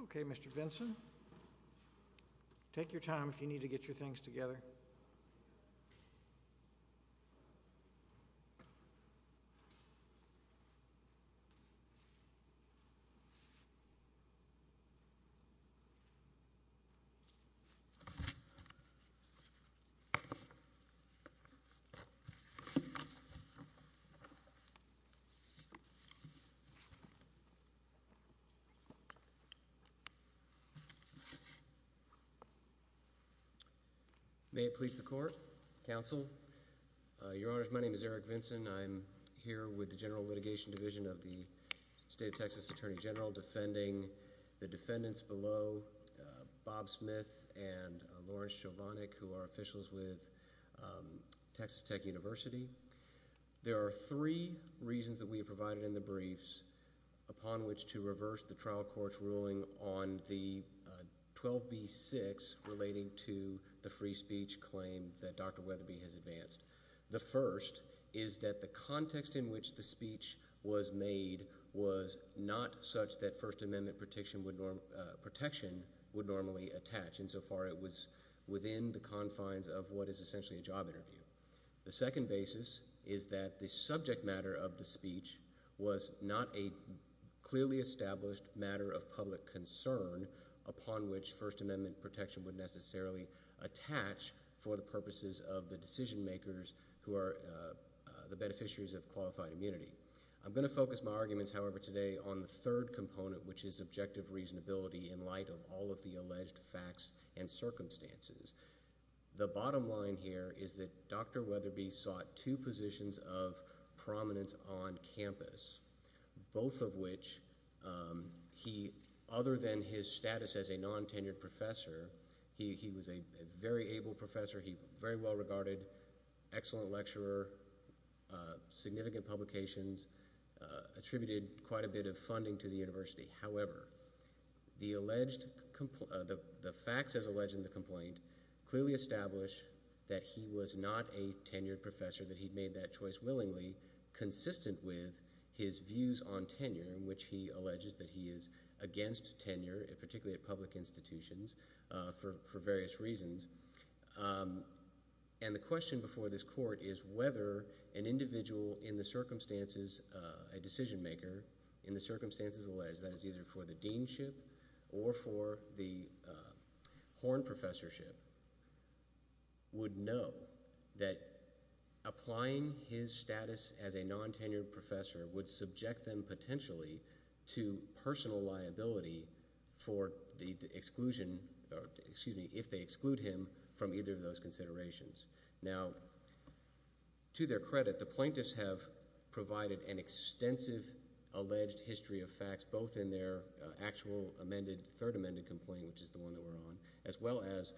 Okay, Mr. Vinson, take your time if you need to get your things together. May it please the Court, Counsel, Your Honors, my name is Eric Vinson. I'm here with the General Litigation Division of the State of Texas Attorney General defending the defendants below, Bob Smith and Lawrence Chovanec, who are officials with Texas Tech University. There are three reasons that we have provided in the briefs upon which to reverse the trial court's ruling on the 12b-6 relating to the free speech claim that Dr. Wetherbe has advanced. The first is that the context in which the speech was made was not such that First Amendment protection would normally attach. Insofar, it was within the confines of what is essentially a job interview. The second basis is that the subject matter of the speech was not a clearly established matter of public concern upon which First Amendment protection would necessarily attach for the purposes of the decision makers who are the beneficiaries of qualified immunity. I'm going to focus my arguments, however, today on the third component, which is objective reasonability in light of all of the alleged facts and circumstances. The bottom line here is that Dr. Wetherbe sought two positions of prominence on campus, both of which he, other than his status as a non-tenured professor, he was a very able professor, he was very well regarded, excellent lecturer, significant publications, attributed quite a bit of funding to the university. However, the facts as alleged in the complaint clearly establish that he was not a tenured professor, that he'd made that choice willingly, consistent with his views on tenure, in which he alleges that he is against tenure, particularly at public institutions, for various reasons. And the question before this court is whether an individual in the circumstances, a decision that was either for the deanship or for the horn professorship, would know that applying his status as a non-tenured professor would subject them potentially to personal liability for the exclusion, excuse me, if they exclude him from either of those considerations. Now, to their credit, the plaintiffs have provided an extensive alleged history of their actual amended, third amended complaint, which is the one that we're on, as well as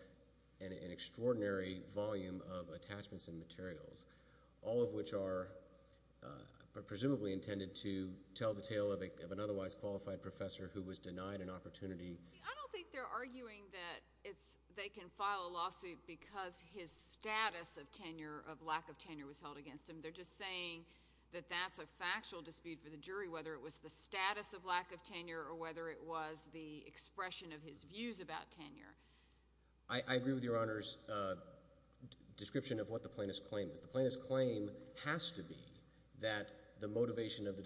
an extraordinary volume of attachments and materials, all of which are presumably intended to tell the tale of an otherwise qualified professor who was denied an opportunity. I don't think they're arguing that they can file a lawsuit because his status of tenure, of lack of tenure, was held against him. They're just saying that that's a factual dispute for the jury, whether it was the status of lack of tenure or whether it was the expression of his views about tenure. I agree with Your Honor's description of what the plaintiff's claim is. The plaintiff's claim has to be that the motivation of the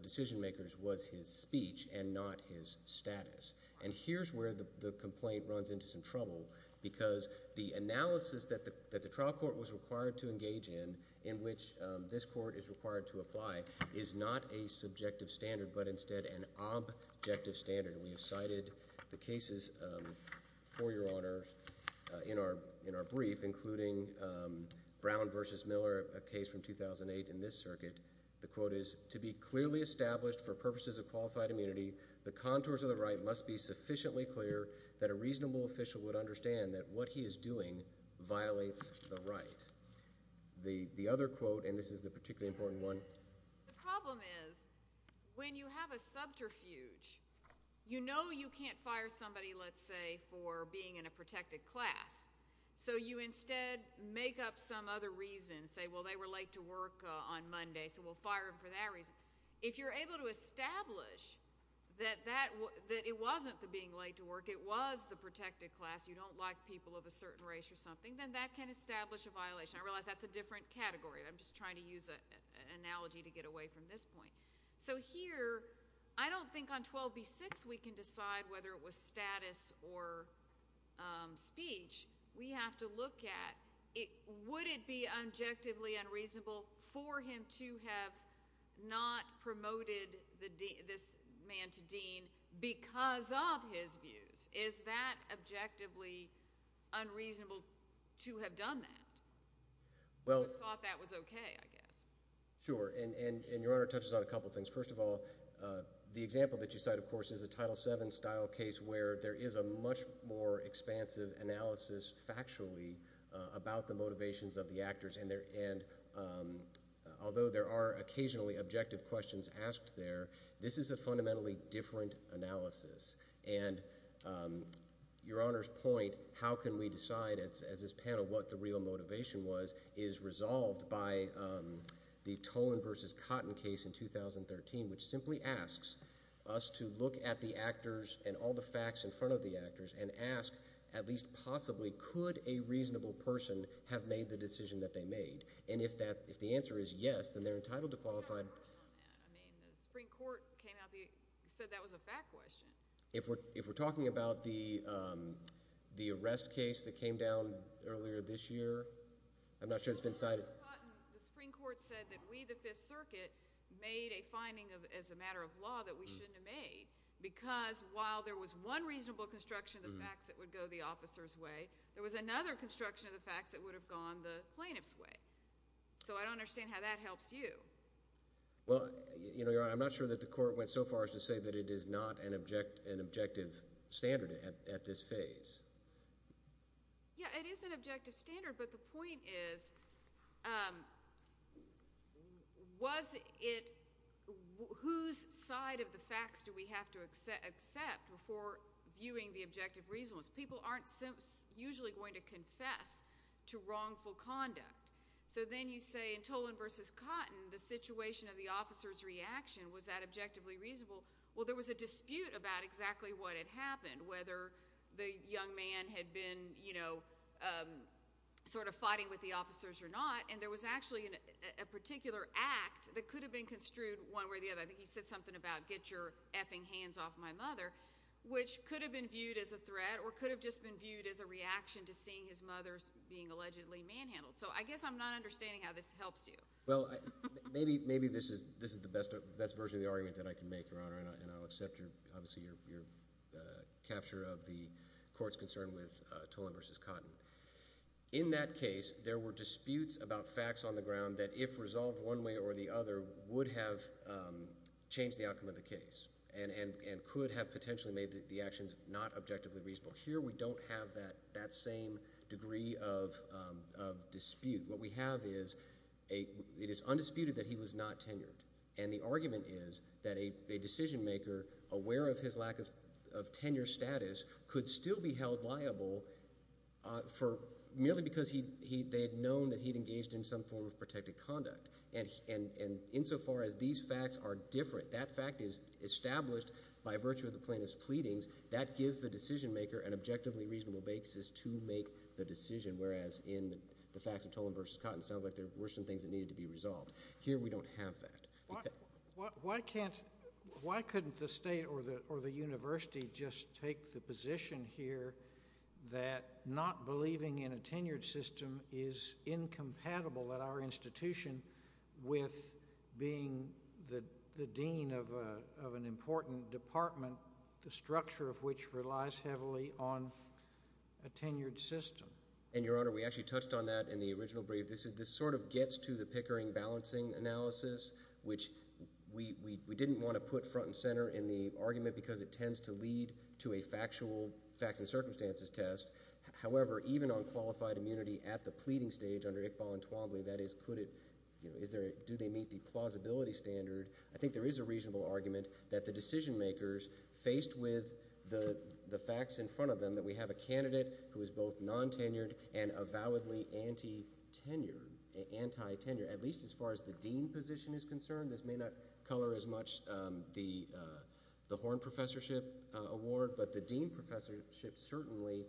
decision makers was his speech and not his status. And here's where the complaint runs into some trouble, because the analysis that the trial court was required to engage in, in which this court is required to apply, is not a reasonable but instead an objective standard. We have cited the cases for Your Honor in our brief, including Brown v. Miller, a case from 2008 in this circuit. The quote is, to be clearly established for purposes of qualified immunity, the contours of the right must be sufficiently clear that a reasonable official would understand that what he is doing violates the right. The other quote, and this is the particularly important one. The problem is, when you have a subterfuge, you know you can't fire somebody, let's say, for being in a protected class. So you instead make up some other reason, say, well, they were late to work on Monday, so we'll fire them for that reason. If you're able to establish that it wasn't the being late to work, it was the protected class, you don't like people of a certain race or something, then that can establish a violation. I realize that's a different category. I'm just trying to use an analogy to get away from this point. So here, I don't think on 12b-6 we can decide whether it was status or speech. We have to look at, would it be objectively unreasonable for him to have not promoted this man to dean because of his views? Is that objectively unreasonable to have done that? I thought that was okay, I guess. Sure, and Your Honor touches on a couple things. First of all, the example that you cite, of course, is a Title VII style case where there is a much more expansive analysis factually about the motivations of the actors. And although there are occasionally objective questions asked there, this is a fundamentally different analysis. And Your Honor's point, how can we decide, as this panel, what the real motivation was, is resolved by the Tolan v. Cotton case in 2013, which simply asks us to look at the actors and all the facts in front of the actors and ask, at least possibly, could a reasonable person have made the decision that they made? And if the answer is yes, then they're entitled to qualify. The Supreme Court said that was a fact question. If we're talking about the arrest case that came down earlier this year, I'm not sure it's been cited. The Supreme Court said that we, the Fifth Circuit, made a finding as a matter of law that we shouldn't have made because while there was one reasonable construction of the facts that would go the officer's way, there was another construction of the facts that would have gone the plaintiff's way. So I don't understand how that helps you. Well, Your Honor, I'm not sure that the court went so far as to say that it is not an objective standard at this phase. Yeah, it is an objective standard, but the point is, was it, whose side of the facts do we have to accept before viewing the objective reasonableness? People aren't usually going to confess to wrongful conduct. So then you say, in Toland v. Cotton, the situation of the officer's reaction, was that objectively reasonable? Well, there was a dispute about exactly what had happened, whether the young man had been, you know, sort of fighting with the officers or not, and there was actually a particular act that could have been construed one way or the other. I think he said something about, get your effing hands off my mother, which could have been viewed as a threat or could have just been viewed as a reaction to seeing his mother being allegedly manhandled. So I guess I'm not understanding how this helps you. Well, maybe this is the best version of the argument that I can make, Your Honor, and I'll accept, obviously, your capture of the court's concern with Toland v. Cotton. In that case, there were disputes about facts on the ground that, if resolved one way or the other, would have changed the outcome of the case and could have potentially made the actions not objectively reasonable. Here, we don't have that same degree of dispute. What we have is it is undisputed that he was not tenured, and the argument is that a decision maker, aware of his lack of tenure status, could still be held liable merely because they had known that he had engaged in some form of protected conduct. And insofar as these facts are different, that fact is established by virtue of the plaintiff's pleadings. That gives the decision maker an objectively reasonable basis to make the decision, whereas in the facts of Toland v. Cotton, it sounds like there were some things that needed to be resolved. Here, we don't have that. Why couldn't the State or the University just take the position here that not believing in a tenured system is incompatible at our institution with being the dean of an important department, the structure of which relies heavily on a tenured system? And, Your Honor, we actually touched on that in the original brief. This sort of gets to the Pickering balancing analysis, which we didn't want to put front and center in the argument because it tends to lead to a factual facts and circumstances test. However, even on qualified immunity at the pleading stage under Iqbal and Twombly, that is, do they meet the plausibility standard, I think there is a reasonable argument that the decision makers, faced with the facts in front of them, that we have a candidate who is both non-tenured and avowedly anti-tenured, at least as far as the dean position is concerned. This may not color as much the Horn Professorship award, but the dean professorship certainly,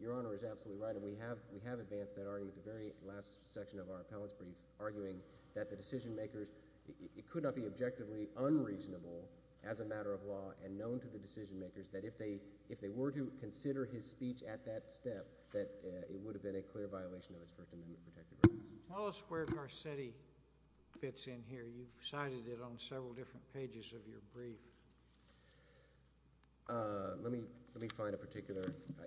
Your Honor is absolutely right, and we have advanced that argument at the very last section of our appellate's brief, arguing that the decision makers, it could not be objectively unreasonable, as a matter of law, and known to the decision makers, that if they were to consider his speech at that step, that it would have been a clear violation of his First Amendment protected rights. Tell us where Garcetti fits in here. You've cited it on several different pages of your brief. Let me find a particular,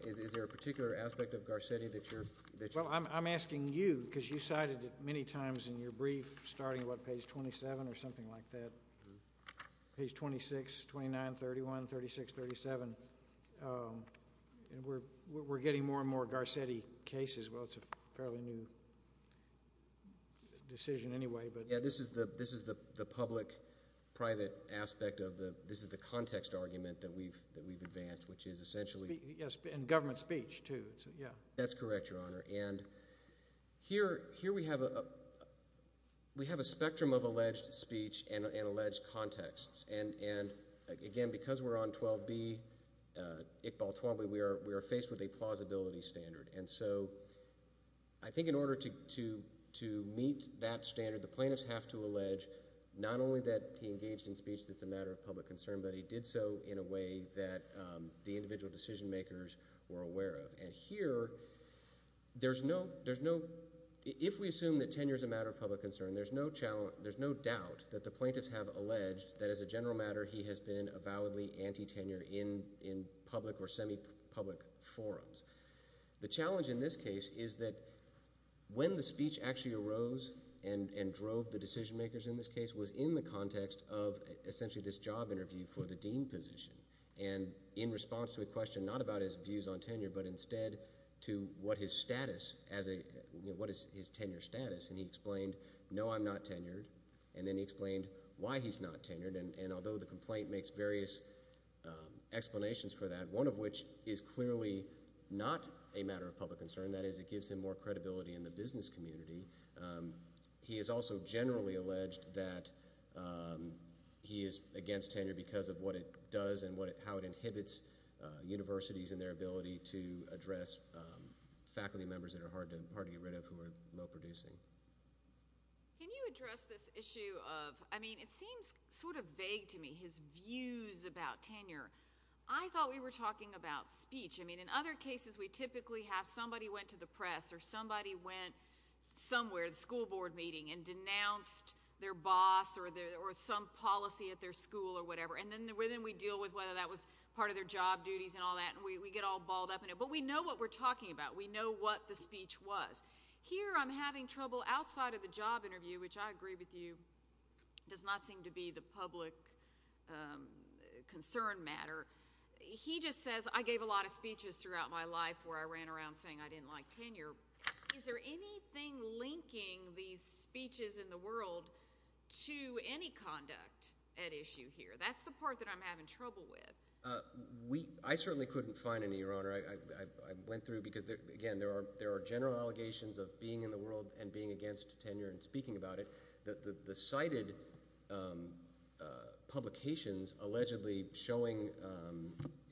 is there a particular aspect of Garcetti that you're, that you're Well, I'm asking you, because you cited it many times in your brief, starting about page 27 or something like that. Page 26, 29, 31, 36, 37. We're getting more and more Garcetti cases. Well, it's a fairly new decision anyway, but Yeah, this is the public-private aspect of the, this is the context argument that we've advanced, which is essentially Yes, and government speech, too. That's correct, Your Honor. And here, here we have a, we have a spectrum of alleged speech and, and alleged contexts. And, and again, because we're on 12B, ICBAL 12B, we are, we are faced with a plausibility standard. And so, I think in order to, to, to meet that standard, the plaintiffs have to allege not only that he engaged in speech that's a matter of public concern, but he did so in a way that the individual decision makers were aware of. And here, there's no, there's no, if we assume that tenure is a matter of public concern, there's no challenge, there's no doubt that the plaintiffs have alleged that as a general matter, he has been avowedly anti-tenure in, in public or semi-public forums. The challenge in this case is that when the speech actually arose and, and drove the decision makers in this case was in the context of essentially this job interview for the dean position. And in response to a question not about his views on tenure, but instead to what his status as a, you know, what is his tenure status. And he explained, no, I'm not tenured. And then he explained why he's not tenured. And, and although the complaint makes various explanations for that, one of which is clearly not a matter of public concern, that is it gives him more credibility in the business community. He has also generally alleged that he is against tenure because of what it does and what it, how it inhibits universities and their ability to address faculty members that are hard to, hard to get rid of who are low producing. Can you address this issue of, I mean, it seems sort of vague to me, his views about tenure. I thought we were talking about speech. I mean, in other cases we typically have somebody went to the press or somebody went somewhere, the school board meeting, and denounced their boss or their, or some policy at their school or whatever. And then, and then we deal with whether that was part of their job duties and all that and we, we get all balled up in it. But we know what we're talking about. We know what the speech was. Here I'm having trouble outside of the job interview, which I agree with you, does not seem to be the public concern matter. He just says, I gave a lot of speeches throughout my life where I ran around saying I didn't like tenure. Is there anything linking these speeches in the world to any conduct at issue here? That's the part that I'm having trouble with. We, I certainly couldn't find any, Your Honor. I, I, I went through because there, again, there are, there are general allegations of being in the world and being against tenure and speaking about it. But the, the, the cited publications allegedly showing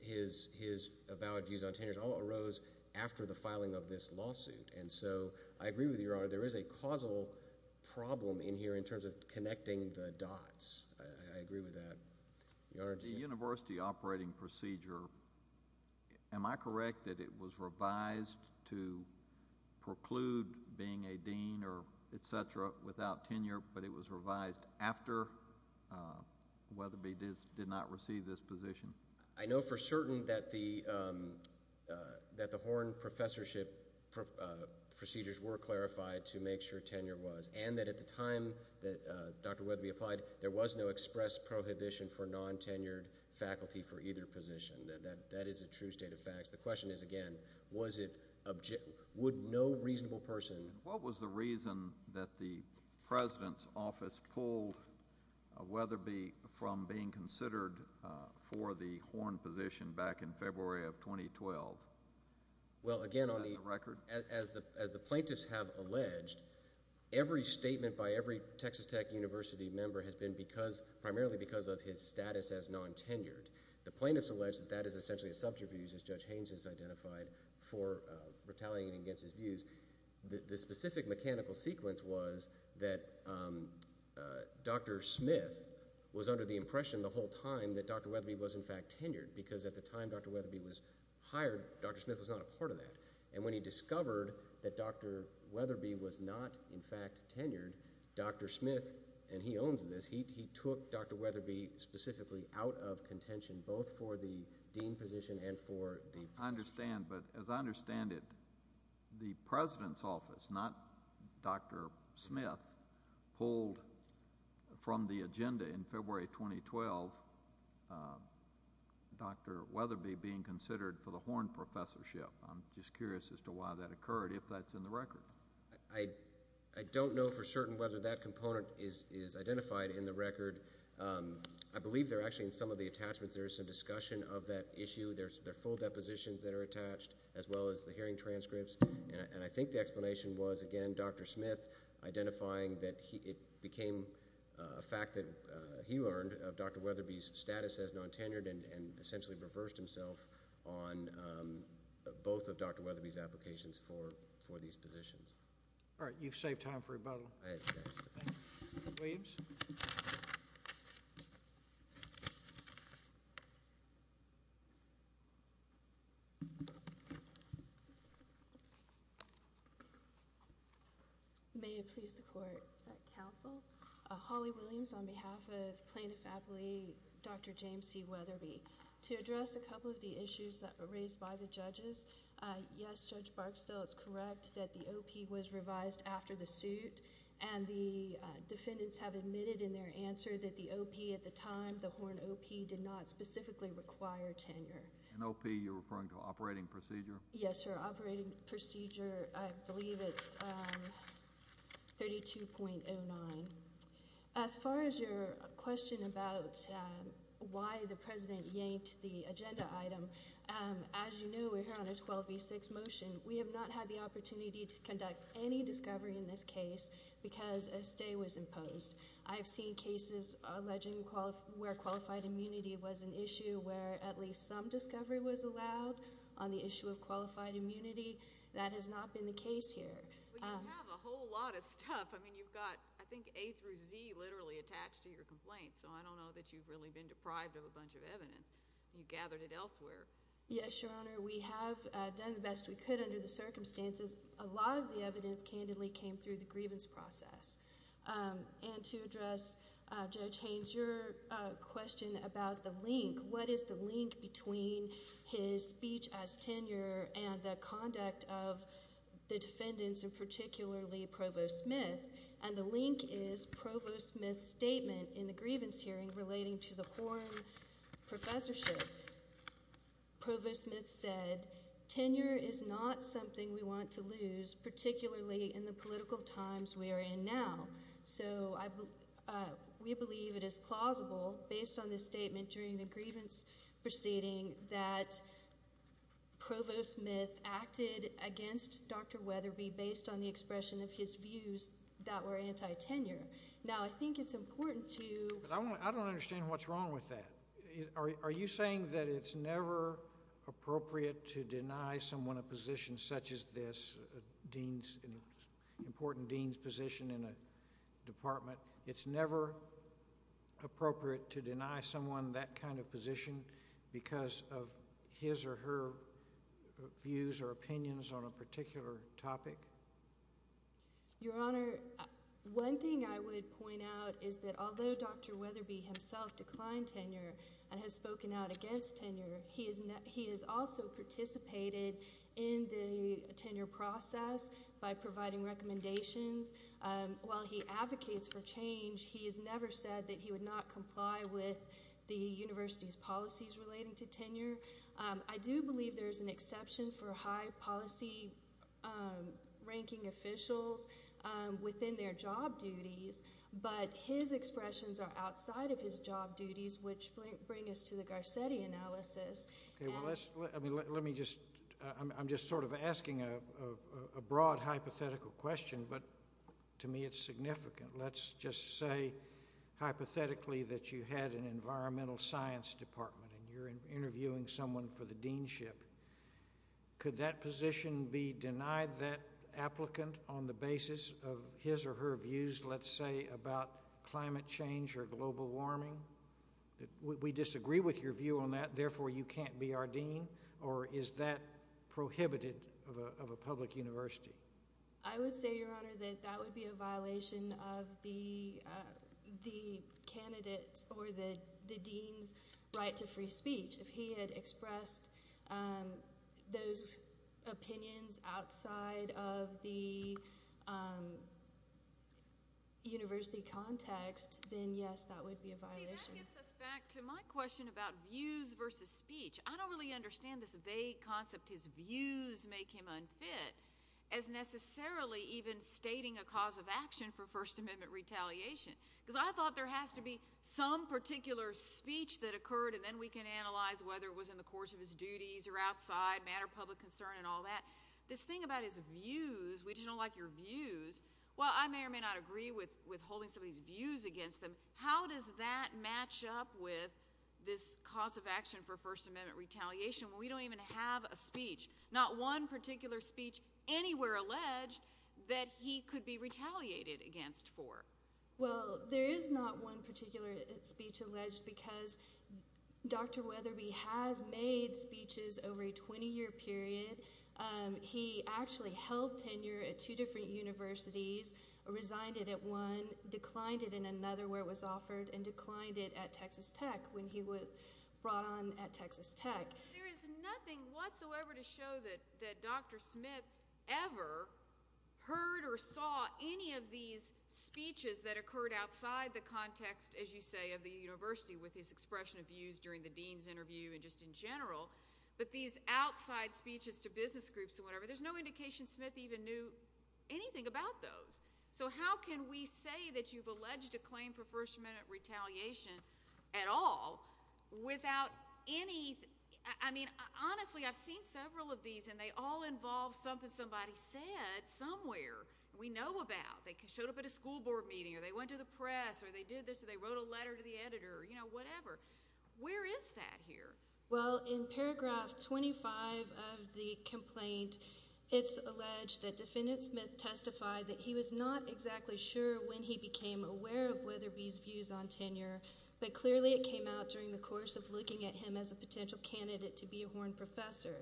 his, his avowed views on tenure all arose after the filing of this lawsuit. And so, I agree with you, Your Honor, there is a causal problem in here in terms of connecting the dots. I, I agree with that. Your Honor. The university operating procedure, am I correct that it was revised to preclude being a dean or et cetera without tenure, but it was revised after Weatherby did, did not receive this position? I know for certain that the, that the Horne professorship procedures were clarified to make sure tenure was. And that at the time that Dr. Weatherby applied, there was no express prohibition for non-tenured faculty for either position. That, that, that is a true state of facts. The question is, again, was it, would no reasonable person. What was the reason that the President's office pulled Weatherby from being considered for the Horne position back in February of 2012? Well, again, on the. Is that the record? As the, as the plaintiffs have alleged, every statement by every Texas Tech University member has been because, primarily because of his status as non-tenured. The plaintiffs allege that that is essentially a subterfuge as Judge Haynes has identified for retaliating against his views. The, the specific mechanical sequence was that Dr. Smith was under the impression the whole time that Dr. Weatherby was, in fact, tenured. Because at the time Dr. Weatherby was hired, Dr. Smith was not a part of that. And when he discovered that Dr. Weatherby was not, in fact, tenured, Dr. Smith, and he owns this, he, he took Dr. Weatherby specifically out of contention, both for the dean position and for the. I understand, but as I understand it, the President's office, not Dr. Smith, pulled from the agenda in February 2012 Dr. Weatherby being considered for the Horne professorship. I'm just curious as to why that occurred, if that's in the record. I, I don't know for certain whether that component is, is identified in the record. I believe they're actually in some of the attachments. There's some discussion of that issue. There's, there are full depositions that are attached, as well as the hearing transcripts. And I, and I think the explanation was, again, Dr. Smith identifying that he, it became a fact that he learned of Dr. Weatherby's status as non-tenured and, and essentially reversed himself on both of Dr. Weatherby's applications for, for these positions. All right. You've saved time for rebuttal. Williams. May it please the Court. Counsel. Holly Williams on behalf of plaintiff appellee Dr. James C. Weatherby. To address a couple of the issues that were raised by the judges, yes, Judge Barksdale is correct that the O.P. was revised after the suit. And the defendants have admitted in their answer that the O.P. at the time, the Horn O.P. did not specifically require tenure. And O.P. you're referring to operating procedure? Yes, sir. Operating procedure. I believe it's 32.09. As far as your question about why the President yanked the agenda item, as you know, we're here on a 12B6 motion. We have not had the opportunity to conduct any discovery in this case because a stay was imposed. I've seen cases alleging where qualified immunity was an issue where at least some discovery was allowed on the issue of qualified immunity. That has not been the case here. But you have a whole lot of stuff. I mean, you've got, I think, A through Z literally attached to your complaint. So I don't know that you've really been deprived of a bunch of evidence. You gathered it elsewhere. Yes, Your Honor. We have done the best we could under the circumstances. A lot of the evidence candidly came through the grievance process. And to address Judge Haynes, your question about the link, what is the link between his speech as tenure and the conduct of the defendants and particularly Provost Smith? And the link is Provost Smith's statement in the grievance hearing relating to the Horn professorship. Provost Smith said, tenure is not something we want to lose, particularly in the political times we are in now. So we believe it is plausible, based on this statement during the grievance proceeding, that Provost Smith acted against Dr. Weatherby based on the expression of his views that were anti-tenure. Now, I think it's important to... I don't understand what's wrong with that. Are you saying that it's never appropriate to deny someone a position such as this, an important dean's position in a department? It's never appropriate to deny someone that kind of position because of his or her views or opinions on a particular topic? Your Honor, one thing I would point out is that although Dr. Weatherby himself declined tenure and has spoken out against tenure, he has also participated in the tenure process by providing recommendations. While he advocates for change, he has never said that he would not comply with the university's policies relating to tenure. I do believe there is an exception for high policy ranking officials within their job duties, but his expressions are outside of his job duties, which bring us to the Garcetti analysis. Okay, well let's... I mean, let me just... I'm just sort of asking a broad hypothetical question, but to me it's significant. Let's just say hypothetically that you had an environmental science department and you're interviewing someone for the deanship. Could that position be denied that applicant on the basis of his or her views, let's say, about climate change or global warming? We disagree with your view on that, therefore you can't be our dean, or is that prohibited of a public university? I would say, Your Honor, that that would be a violation of the candidate's or the dean's right to free speech. If he had expressed those opinions outside of the university context, then yes, that would be a violation. See, that gets us back to my question about views versus speech. I don't really understand this vague concept, his views make him unfit, as necessarily even stating a cause of action for First Amendment retaliation, because I thought there has to be some particular speech that occurred and then we can analyze whether it was in the course of his duties or outside, matter of public concern and all that. This thing about his views, we just don't like your views, while I may or may not agree with withholding somebody's views against them, how does that match up with this cause of action for First Amendment retaliation when we don't even have a speech, not one particular speech anywhere alleged that he could be retaliated against for? Well, there is not one particular speech alleged because Dr. Weatherby has made speeches over a 20-year period. He actually held tenure at two different universities, resigned it at one, declined it in another where it was offered, and declined it at Texas Tech when he was brought on at Texas Tech. There is nothing whatsoever to show that Dr. Smith ever heard or saw any of these speeches that occurred outside the context, as you say, of the university with his expression of views during the dean's interview and just in general, but these outside speeches to business groups or whatever, there's no indication Smith even knew anything about those. So how can we say that you've alleged a claim for First Amendment retaliation at all without any—I mean, honestly, I've seen several of these and they all involve something somebody said somewhere we know about. They showed up at a school board meeting or they went to the press or they did this or they wrote a letter to the editor or, you know, whatever. Where is that here? Well, in paragraph 25 of the complaint, it's alleged that Defendant Smith testified that he was not exactly sure when he became aware of Weatherby's views on tenure, but clearly it came out during the course of looking at him as a potential candidate to be a Horn professor.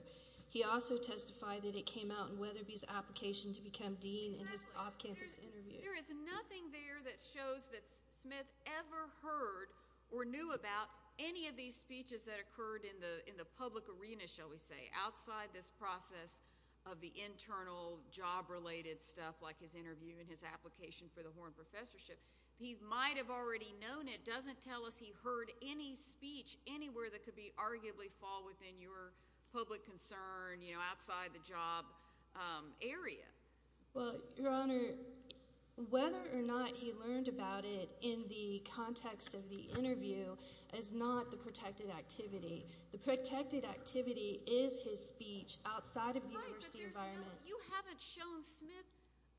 He also testified that it came out in Weatherby's application to become dean in his off-campus interview. There is nothing there that shows that Smith ever heard or knew about any of these speeches that occurred in the public arena, shall we say, outside this process of the internal job-related stuff like his interview and his application for the Horn professorship. He might have already known it. It doesn't tell us he heard any speech anywhere that could arguably fall within your public concern, you know, outside the job area. Well, Your Honor, whether or not he learned about it in the context of the interview is not the protected activity. The protected activity is his speech outside of the university environment. Your Honor, you haven't shown Smith,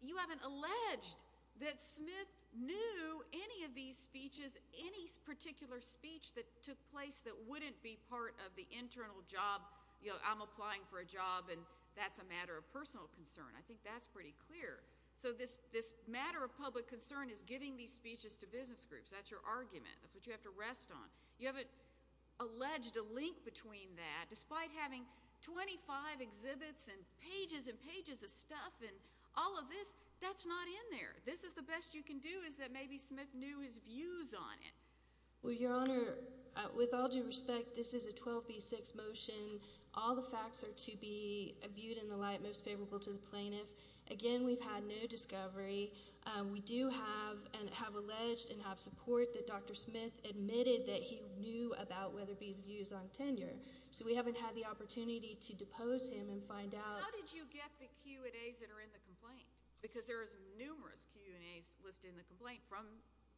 you haven't alleged that Smith knew any of these speeches, any particular speech that took place that wouldn't be part of the internal job, you know, I'm applying for a job and that's a matter of personal concern. I think that's pretty clear. So this matter of public concern is giving these speeches to business groups. That's your argument. That's what you have to rest on. You haven't alleged a link between that. Despite having 25 exhibits and pages and pages of stuff and all of this, that's not in there. This is the best you can do is that maybe Smith knew his views on it. Well, Your Honor, with all due respect, this is a 12B6 motion. All the facts are to be viewed in the light most favorable to the plaintiff. Again, we've had no discovery. We do have and have alleged and have support that Dr. Smith admitted that he knew about Weatherby's views on tenure. So we haven't had the opportunity to depose him and find out. How did you get the Q&As that are in the complaint? Because there is numerous Q&As listed in the complaint from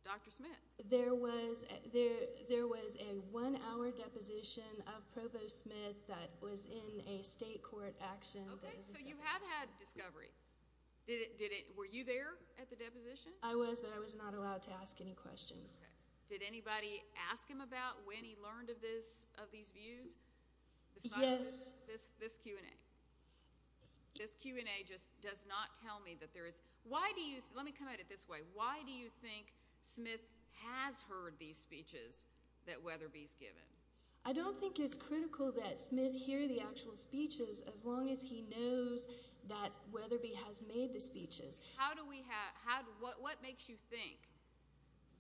Dr. Smith. There was a one-hour deposition of Provost Smith that was in a state court action. Okay, so you have had discovery. Were you there at the deposition? I was, but I was not allowed to ask any questions. Okay. Did anybody ask him about when he learned of these views? Yes. This Q&A. This Q&A just does not tell me that there is. Let me come at it this way. Why do you think Smith has heard these speeches that Weatherby's given? I don't think it's critical that Smith hear the actual speeches as long as he knows that Weatherby has made the speeches. What makes you think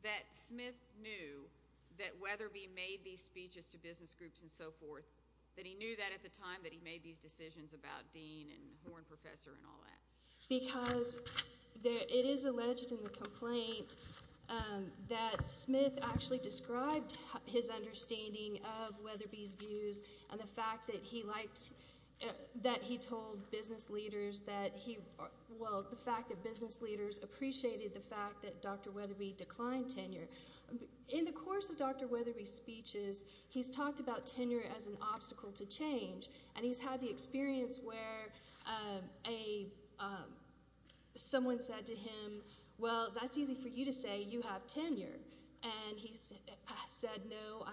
that Smith knew that Weatherby made these speeches to business groups and so forth, that he knew that at the time that he made these decisions about Dean and Horn Professor and all that? Because it is alleged in the complaint that Smith actually described his understanding of Weatherby's views and the fact that he told business leaders that he appreciated the fact that Dr. Weatherby declined tenure. In the course of Dr. Weatherby's speeches, he's talked about tenure as an obstacle to change, and he's had the experience where someone said to him, Well, that's easy for you to say. You have tenure. And he said, No,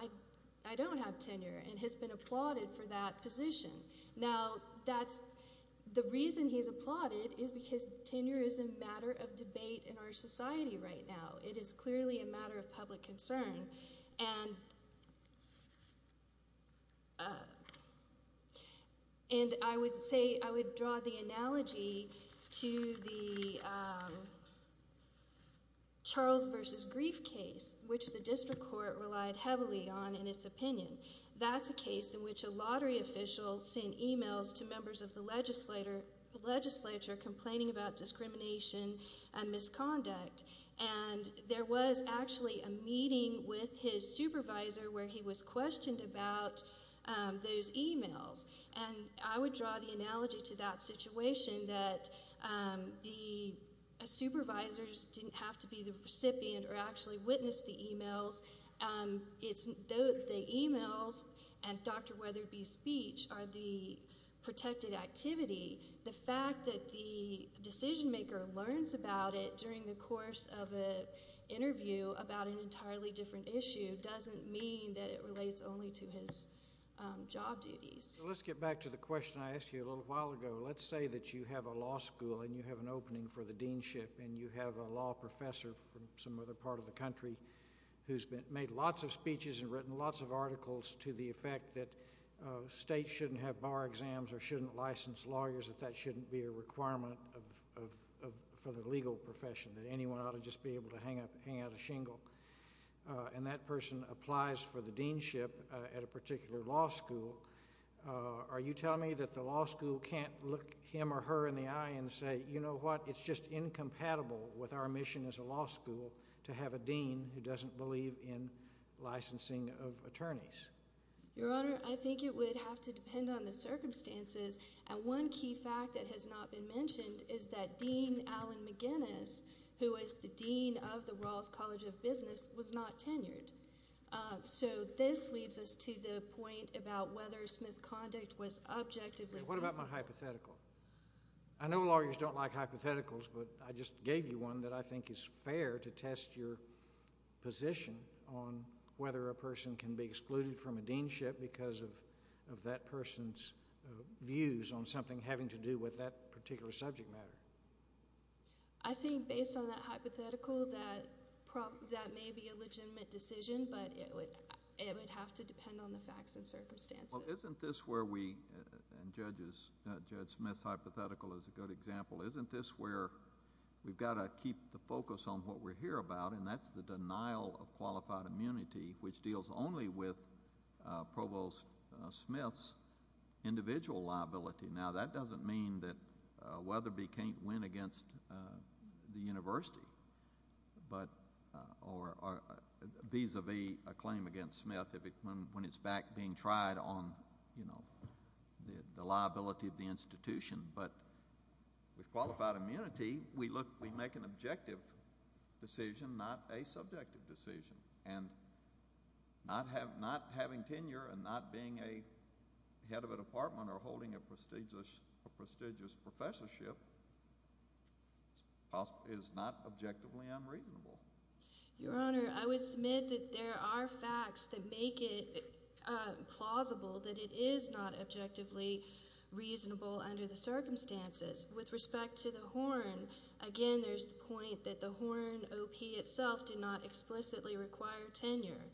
I don't have tenure, and has been applauded for that position. Now, the reason he's applauded is because tenure is a matter of debate in our society right now. It is clearly a matter of public concern. And I would say I would draw the analogy to the Charles v. Grief case, which the district court relied heavily on in its opinion. That's a case in which a lottery official sent e-mails to members of the legislature complaining about discrimination and misconduct. And there was actually a meeting with his supervisor where he was questioned about those e-mails. And I would draw the analogy to that situation that the supervisors didn't have to be the recipient or actually witness the e-mails. The e-mails and Dr. Weatherby's speech are the protected activity. The fact that the decision-maker learns about it during the course of an interview about an entirely different issue doesn't mean that it relates only to his job duties. So let's get back to the question I asked you a little while ago. Let's say that you have a law school and you have an opening for the deanship, and you have a law professor from some other part of the country who's made lots of speeches and written lots of articles to the effect that states shouldn't have bar exams or shouldn't license lawyers, that that shouldn't be a requirement for the legal profession, that anyone ought to just be able to hang out a shingle. And that person applies for the deanship at a particular law school. Are you telling me that the law school can't look him or her in the eye and say, you know what, it's just incompatible with our mission as a law school to have a dean who doesn't believe in licensing of attorneys? Your Honor, I think it would have to depend on the circumstances. And one key fact that has not been mentioned is that Dean Alan McGinnis, who is the dean of the Rawls College of Business, was not tenured. So this leads us to the point about whether Smith's conduct was objectively reasonable. What about my hypothetical? I know lawyers don't like hypotheticals, but I just gave you one that I think is fair to test your position on whether a person can be excluded from a deanship because of that person's views on something having to do with that particular subject matter. I think based on that hypothetical, that may be a legitimate decision, but it would have to depend on the facts and circumstances. Well, isn't this where we, and Judge Smith's hypothetical is a good example, isn't this where we've got to keep the focus on what we're here about, and that's the denial of qualified immunity, which deals only with Provost Smith's individual liability. Now, that doesn't mean that Weatherby can't win against the university, or vis-a-vis a claim against Smith when it's back being tried on the liability of the institution, but with qualified immunity, we make an objective decision, not a subjective decision, and not having tenure and not being a head of a department or holding a prestigious professorship is not objectively unreasonable. Your Honor, I would submit that there are facts that make it plausible that it is not objectively reasonable under the circumstances. With respect to the Horn, again, there's the point that the Horn OP itself did not explicitly require tenure.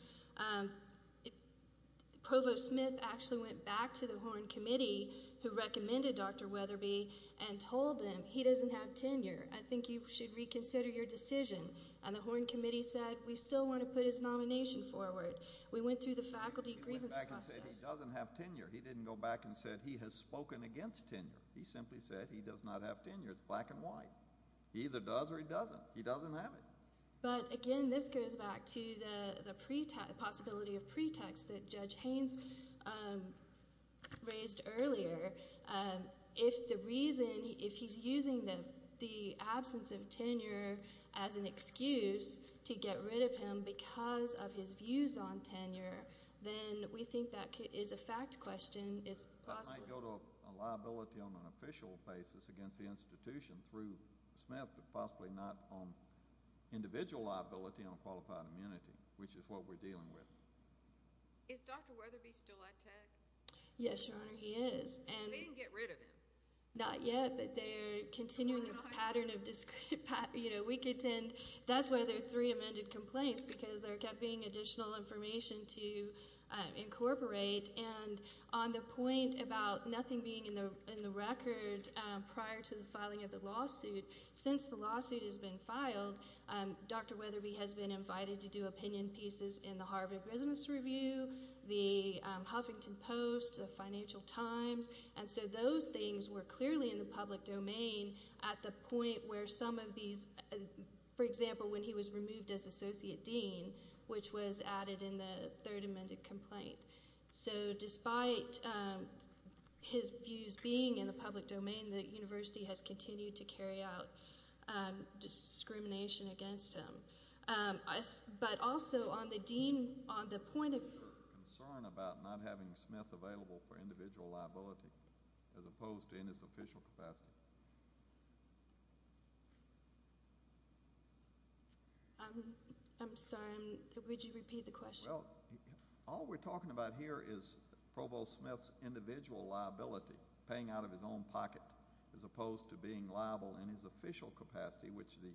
Provost Smith actually went back to the Horn committee who recommended Dr. Weatherby and told them, he doesn't have tenure, I think you should reconsider your decision, and the Horn committee said, we still want to put his nomination forward. We went through the faculty grievance process. He went back and said he doesn't have tenure. He didn't go back and say he has spoken against tenure. He simply said he does not have tenure, black and white. He either does or he doesn't. He doesn't have it. But, again, this goes back to the possibility of pretext that Judge Haynes raised earlier. If the reason, if he's using the absence of tenure as an excuse to get rid of him because of his views on tenure, then we think that is a fact question. I might go to a liability on an official basis against the institution through Smith, but possibly not on individual liability on a qualified immunity, which is what we're dealing with. Is Dr. Weatherby still at Tech? Yes, Your Honor, he is. They didn't get rid of him? Not yet, but they're continuing a pattern of, you know, we could tend, that's why there are three amended complaints because there kept being additional information to incorporate. And on the point about nothing being in the record prior to the filing of the lawsuit, since the lawsuit has been filed, Dr. Weatherby has been invited to do opinion pieces in the Harvard Business Review, the Huffington Post, the Financial Times. And so those things were clearly in the public domain at the point where some of these, for example, when he was removed as associate dean, which was added in the third amended complaint. So despite his views being in the public domain, the university has continued to carry out discrimination against him. But also on the dean, on the point of Is there concern about not having Smith available for individual liability as opposed to in its official capacity? I'm sorry, would you repeat the question? Well, all we're talking about here is Provost Smith's individual liability, paying out of his own pocket as opposed to being liable in his official capacity, which the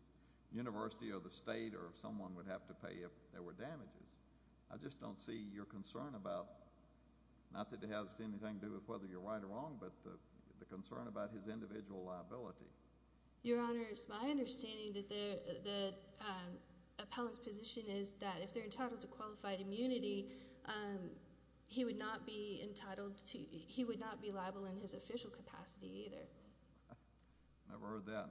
university or the state or someone would have to pay if there were damages. I just don't see your concern about, not that it has anything to do with whether you're right or wrong, but the concern about his individual liability. Your Honor, it's my understanding that the appellant's position is that if they're entitled to qualified immunity, he would not be entitled to, he would not be liable in his official capacity either. I've heard that.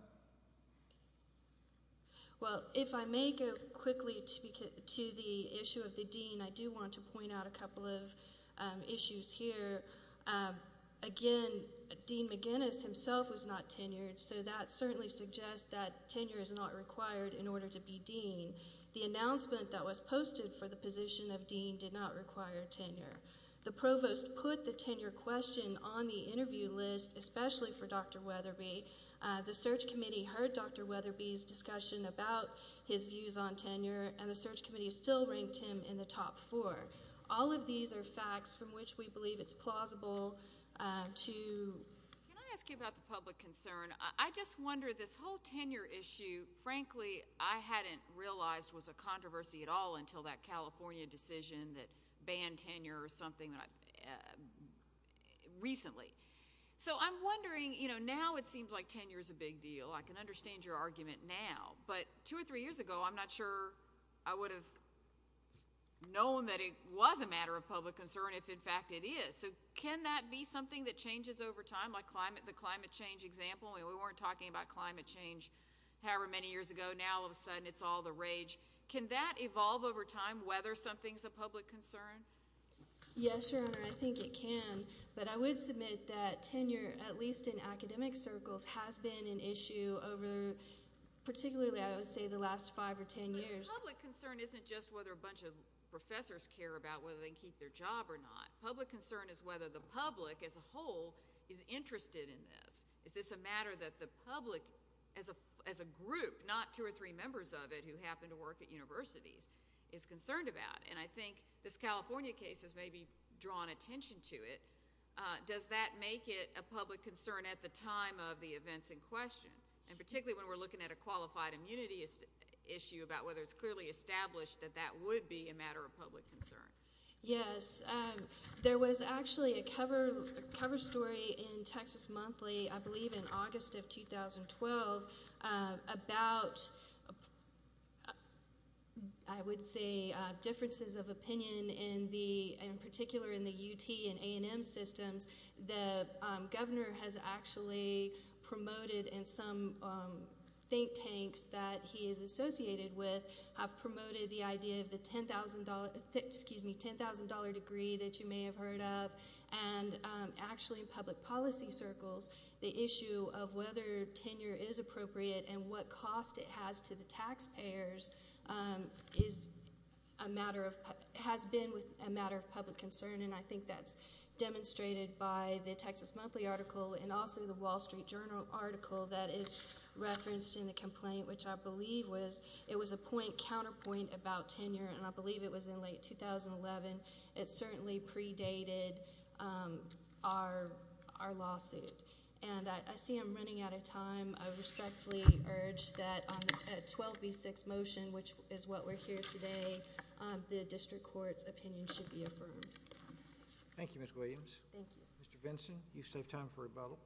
Well, if I may go quickly to the issue of the dean, I do want to point out a couple of issues here. Again, Dean McGinnis himself was not tenured, so that certainly suggests that tenure is not required in order to be dean. The announcement that was posted for the position of dean did not require tenure. The provost put the tenure question on the interview list, especially for Dr. Weatherby. The search committee heard Dr. Weatherby's discussion about his views on tenure, and the search committee still ranked him in the top four. All of these are facts from which we believe it's plausible to... Can I ask you about the public concern? I just wonder, this whole tenure issue, frankly, I hadn't realized was a controversy at all until that California decision that banned tenure or something recently. So I'm wondering, you know, now it seems like tenure is a big deal. I can understand your argument now, but two or three years ago, I'm not sure I would have known that it was a matter of public concern if, in fact, it is. So can that be something that changes over time, like the climate change example? We weren't talking about climate change however many years ago. Now, all of a sudden, it's all the rage. Can that evolve over time, whether something's a public concern? Yes, Your Honor, I think it can, but I would submit that tenure, at least in academic circles, has been an issue over particularly, I would say, the last five or ten years. But public concern isn't just whether a bunch of professors care about whether they can keep their job or not. Public concern is whether the public as a whole is interested in this. Is this a matter that the public as a group, not two or three members of it who happen to work at universities, is concerned about? And I think this California case has maybe drawn attention to it. Does that make it a public concern at the time of the events in question, and particularly when we're looking at a qualified immunity issue about whether it's clearly established that that would be a matter of public concern? Yes. There was actually a cover story in Texas Monthly, I believe in August of 2012, about, I would say, differences of opinion in particular in the UT and A&M systems. The governor has actually promoted in some think tanks that he is associated with, have promoted the idea of the $10,000 degree that you may have heard of, and actually in public policy circles, the issue of whether tenure is appropriate and what cost it has to the taxpayers has been a matter of public concern, and I think that's demonstrated by the Texas Monthly article and also the Wall Street Journal article that is referenced in the complaint, which I believe was a counterpoint about tenure, and I believe it was in late 2011. It certainly predated our lawsuit, and I see I'm running out of time. I respectfully urge that a 12B6 motion, which is what we're here today, the district court's opinion should be affirmed. Thank you, Ms. Williams. Thank you. Mr. Vinson, you save time for rebuttal.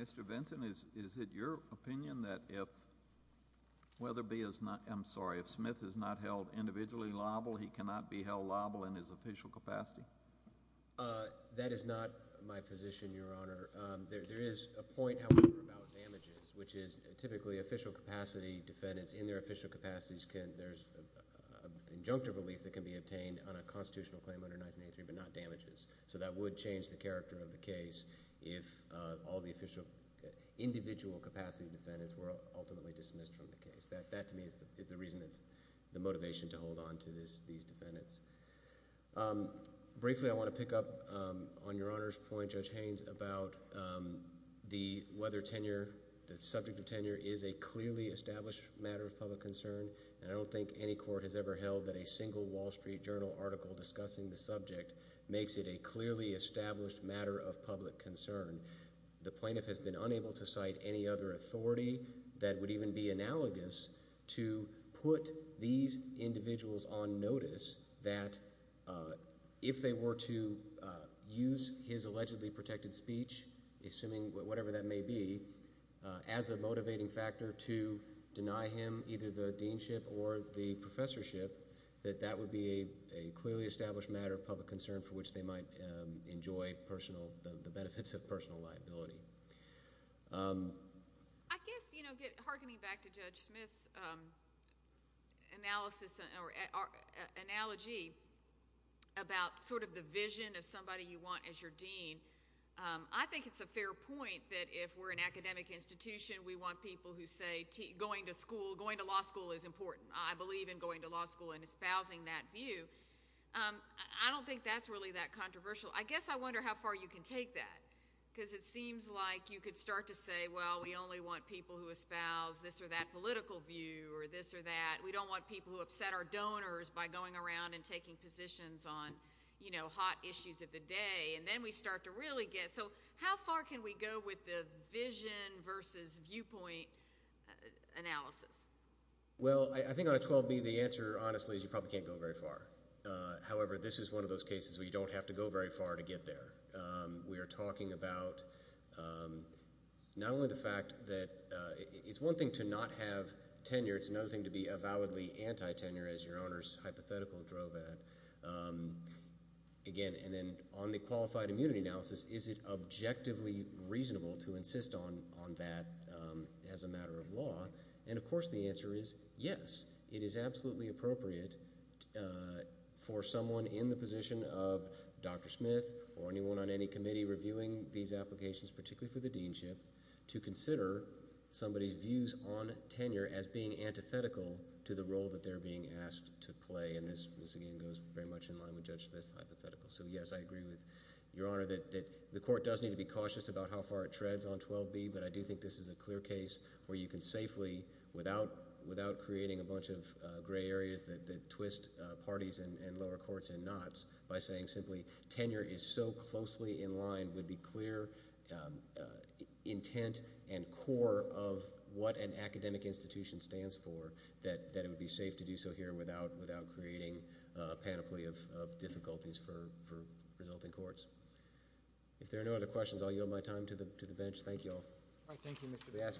Mr. Vinson, is it your opinion that if Smith is not held individually liable, he cannot be held liable in his official capacity? That is not my position, Your Honor. There is a point, however, about damages, which is typically official capacity defendants in their official capacities, there's injunctive relief that can be obtained on a constitutional claim under 1983 but not damages, so that would change the character of the case if all the official individual capacity defendants were ultimately dismissed from the case. That, to me, is the reason that's the motivation to hold on to these defendants. Briefly, I want to pick up on Your Honor's point, Judge Haynes, about whether tenure, the subject of tenure, is a clearly established matter of public concern, and I don't think any court has ever held that a single Wall Street Journal article discussing the subject makes it a clearly established matter of public concern. The plaintiff has been unable to cite any other authority that would even be analogous to put these individuals on notice that if they were to use his allegedly protected speech, assuming whatever that may be, as a motivating factor to deny him either the deanship or the professorship, that that would be a clearly established matter of public concern for which they might enjoy the benefits of personal liability. I guess, hearkening back to Judge Smith's analysis or analogy about sort of the vision of somebody you want as your dean, I think it's a fair point that if we're an academic institution, we want people who say going to school, going to law school is important. I believe in going to law school and espousing that view. I don't think that's really that controversial. I guess I wonder how far you can take that because it seems like you could start to say, well, we only want people who espouse this or that political view or this or that. We don't want people who upset our donors by going around and taking positions on hot issues of the day, and then we start to really get – so how far can we go with the vision versus viewpoint analysis? Well, I think on a 12B, the answer, honestly, is you probably can't go very far. However, this is one of those cases where you don't have to go very far to get there. We are talking about not only the fact that it's one thing to not have tenure. It's another thing to be avowedly anti-tenure, as your Honor's hypothetical drove at. Again, and then on the qualified immunity analysis, is it objectively reasonable to insist on that as a matter of law? And, of course, the answer is yes. It is absolutely appropriate for someone in the position of Dr. Smith or anyone on any committee reviewing these applications, particularly for the deanship, to consider somebody's views on tenure as being antithetical to the role that they're being asked to play. And this, again, goes very much in line with Judge Smith's hypothetical. So yes, I agree with your Honor that the court does need to be cautious about how far it treads on 12B, but I do think this is a clear case where you can safely, without creating a bunch of gray areas that twist parties and lower courts in knots, by saying simply, tenure is so closely in line with the clear intent and core of what an academic institution stands for, that it would be safe to do so here without creating a panoply of difficulties for resulting courts. If there are no other questions, I'll yield my time to the bench. Thank you all. We ask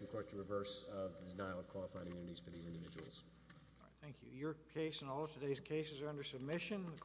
the court to reverse the denial of qualified immunities for these individuals. Thank you. Your case and all of today's cases are under submission.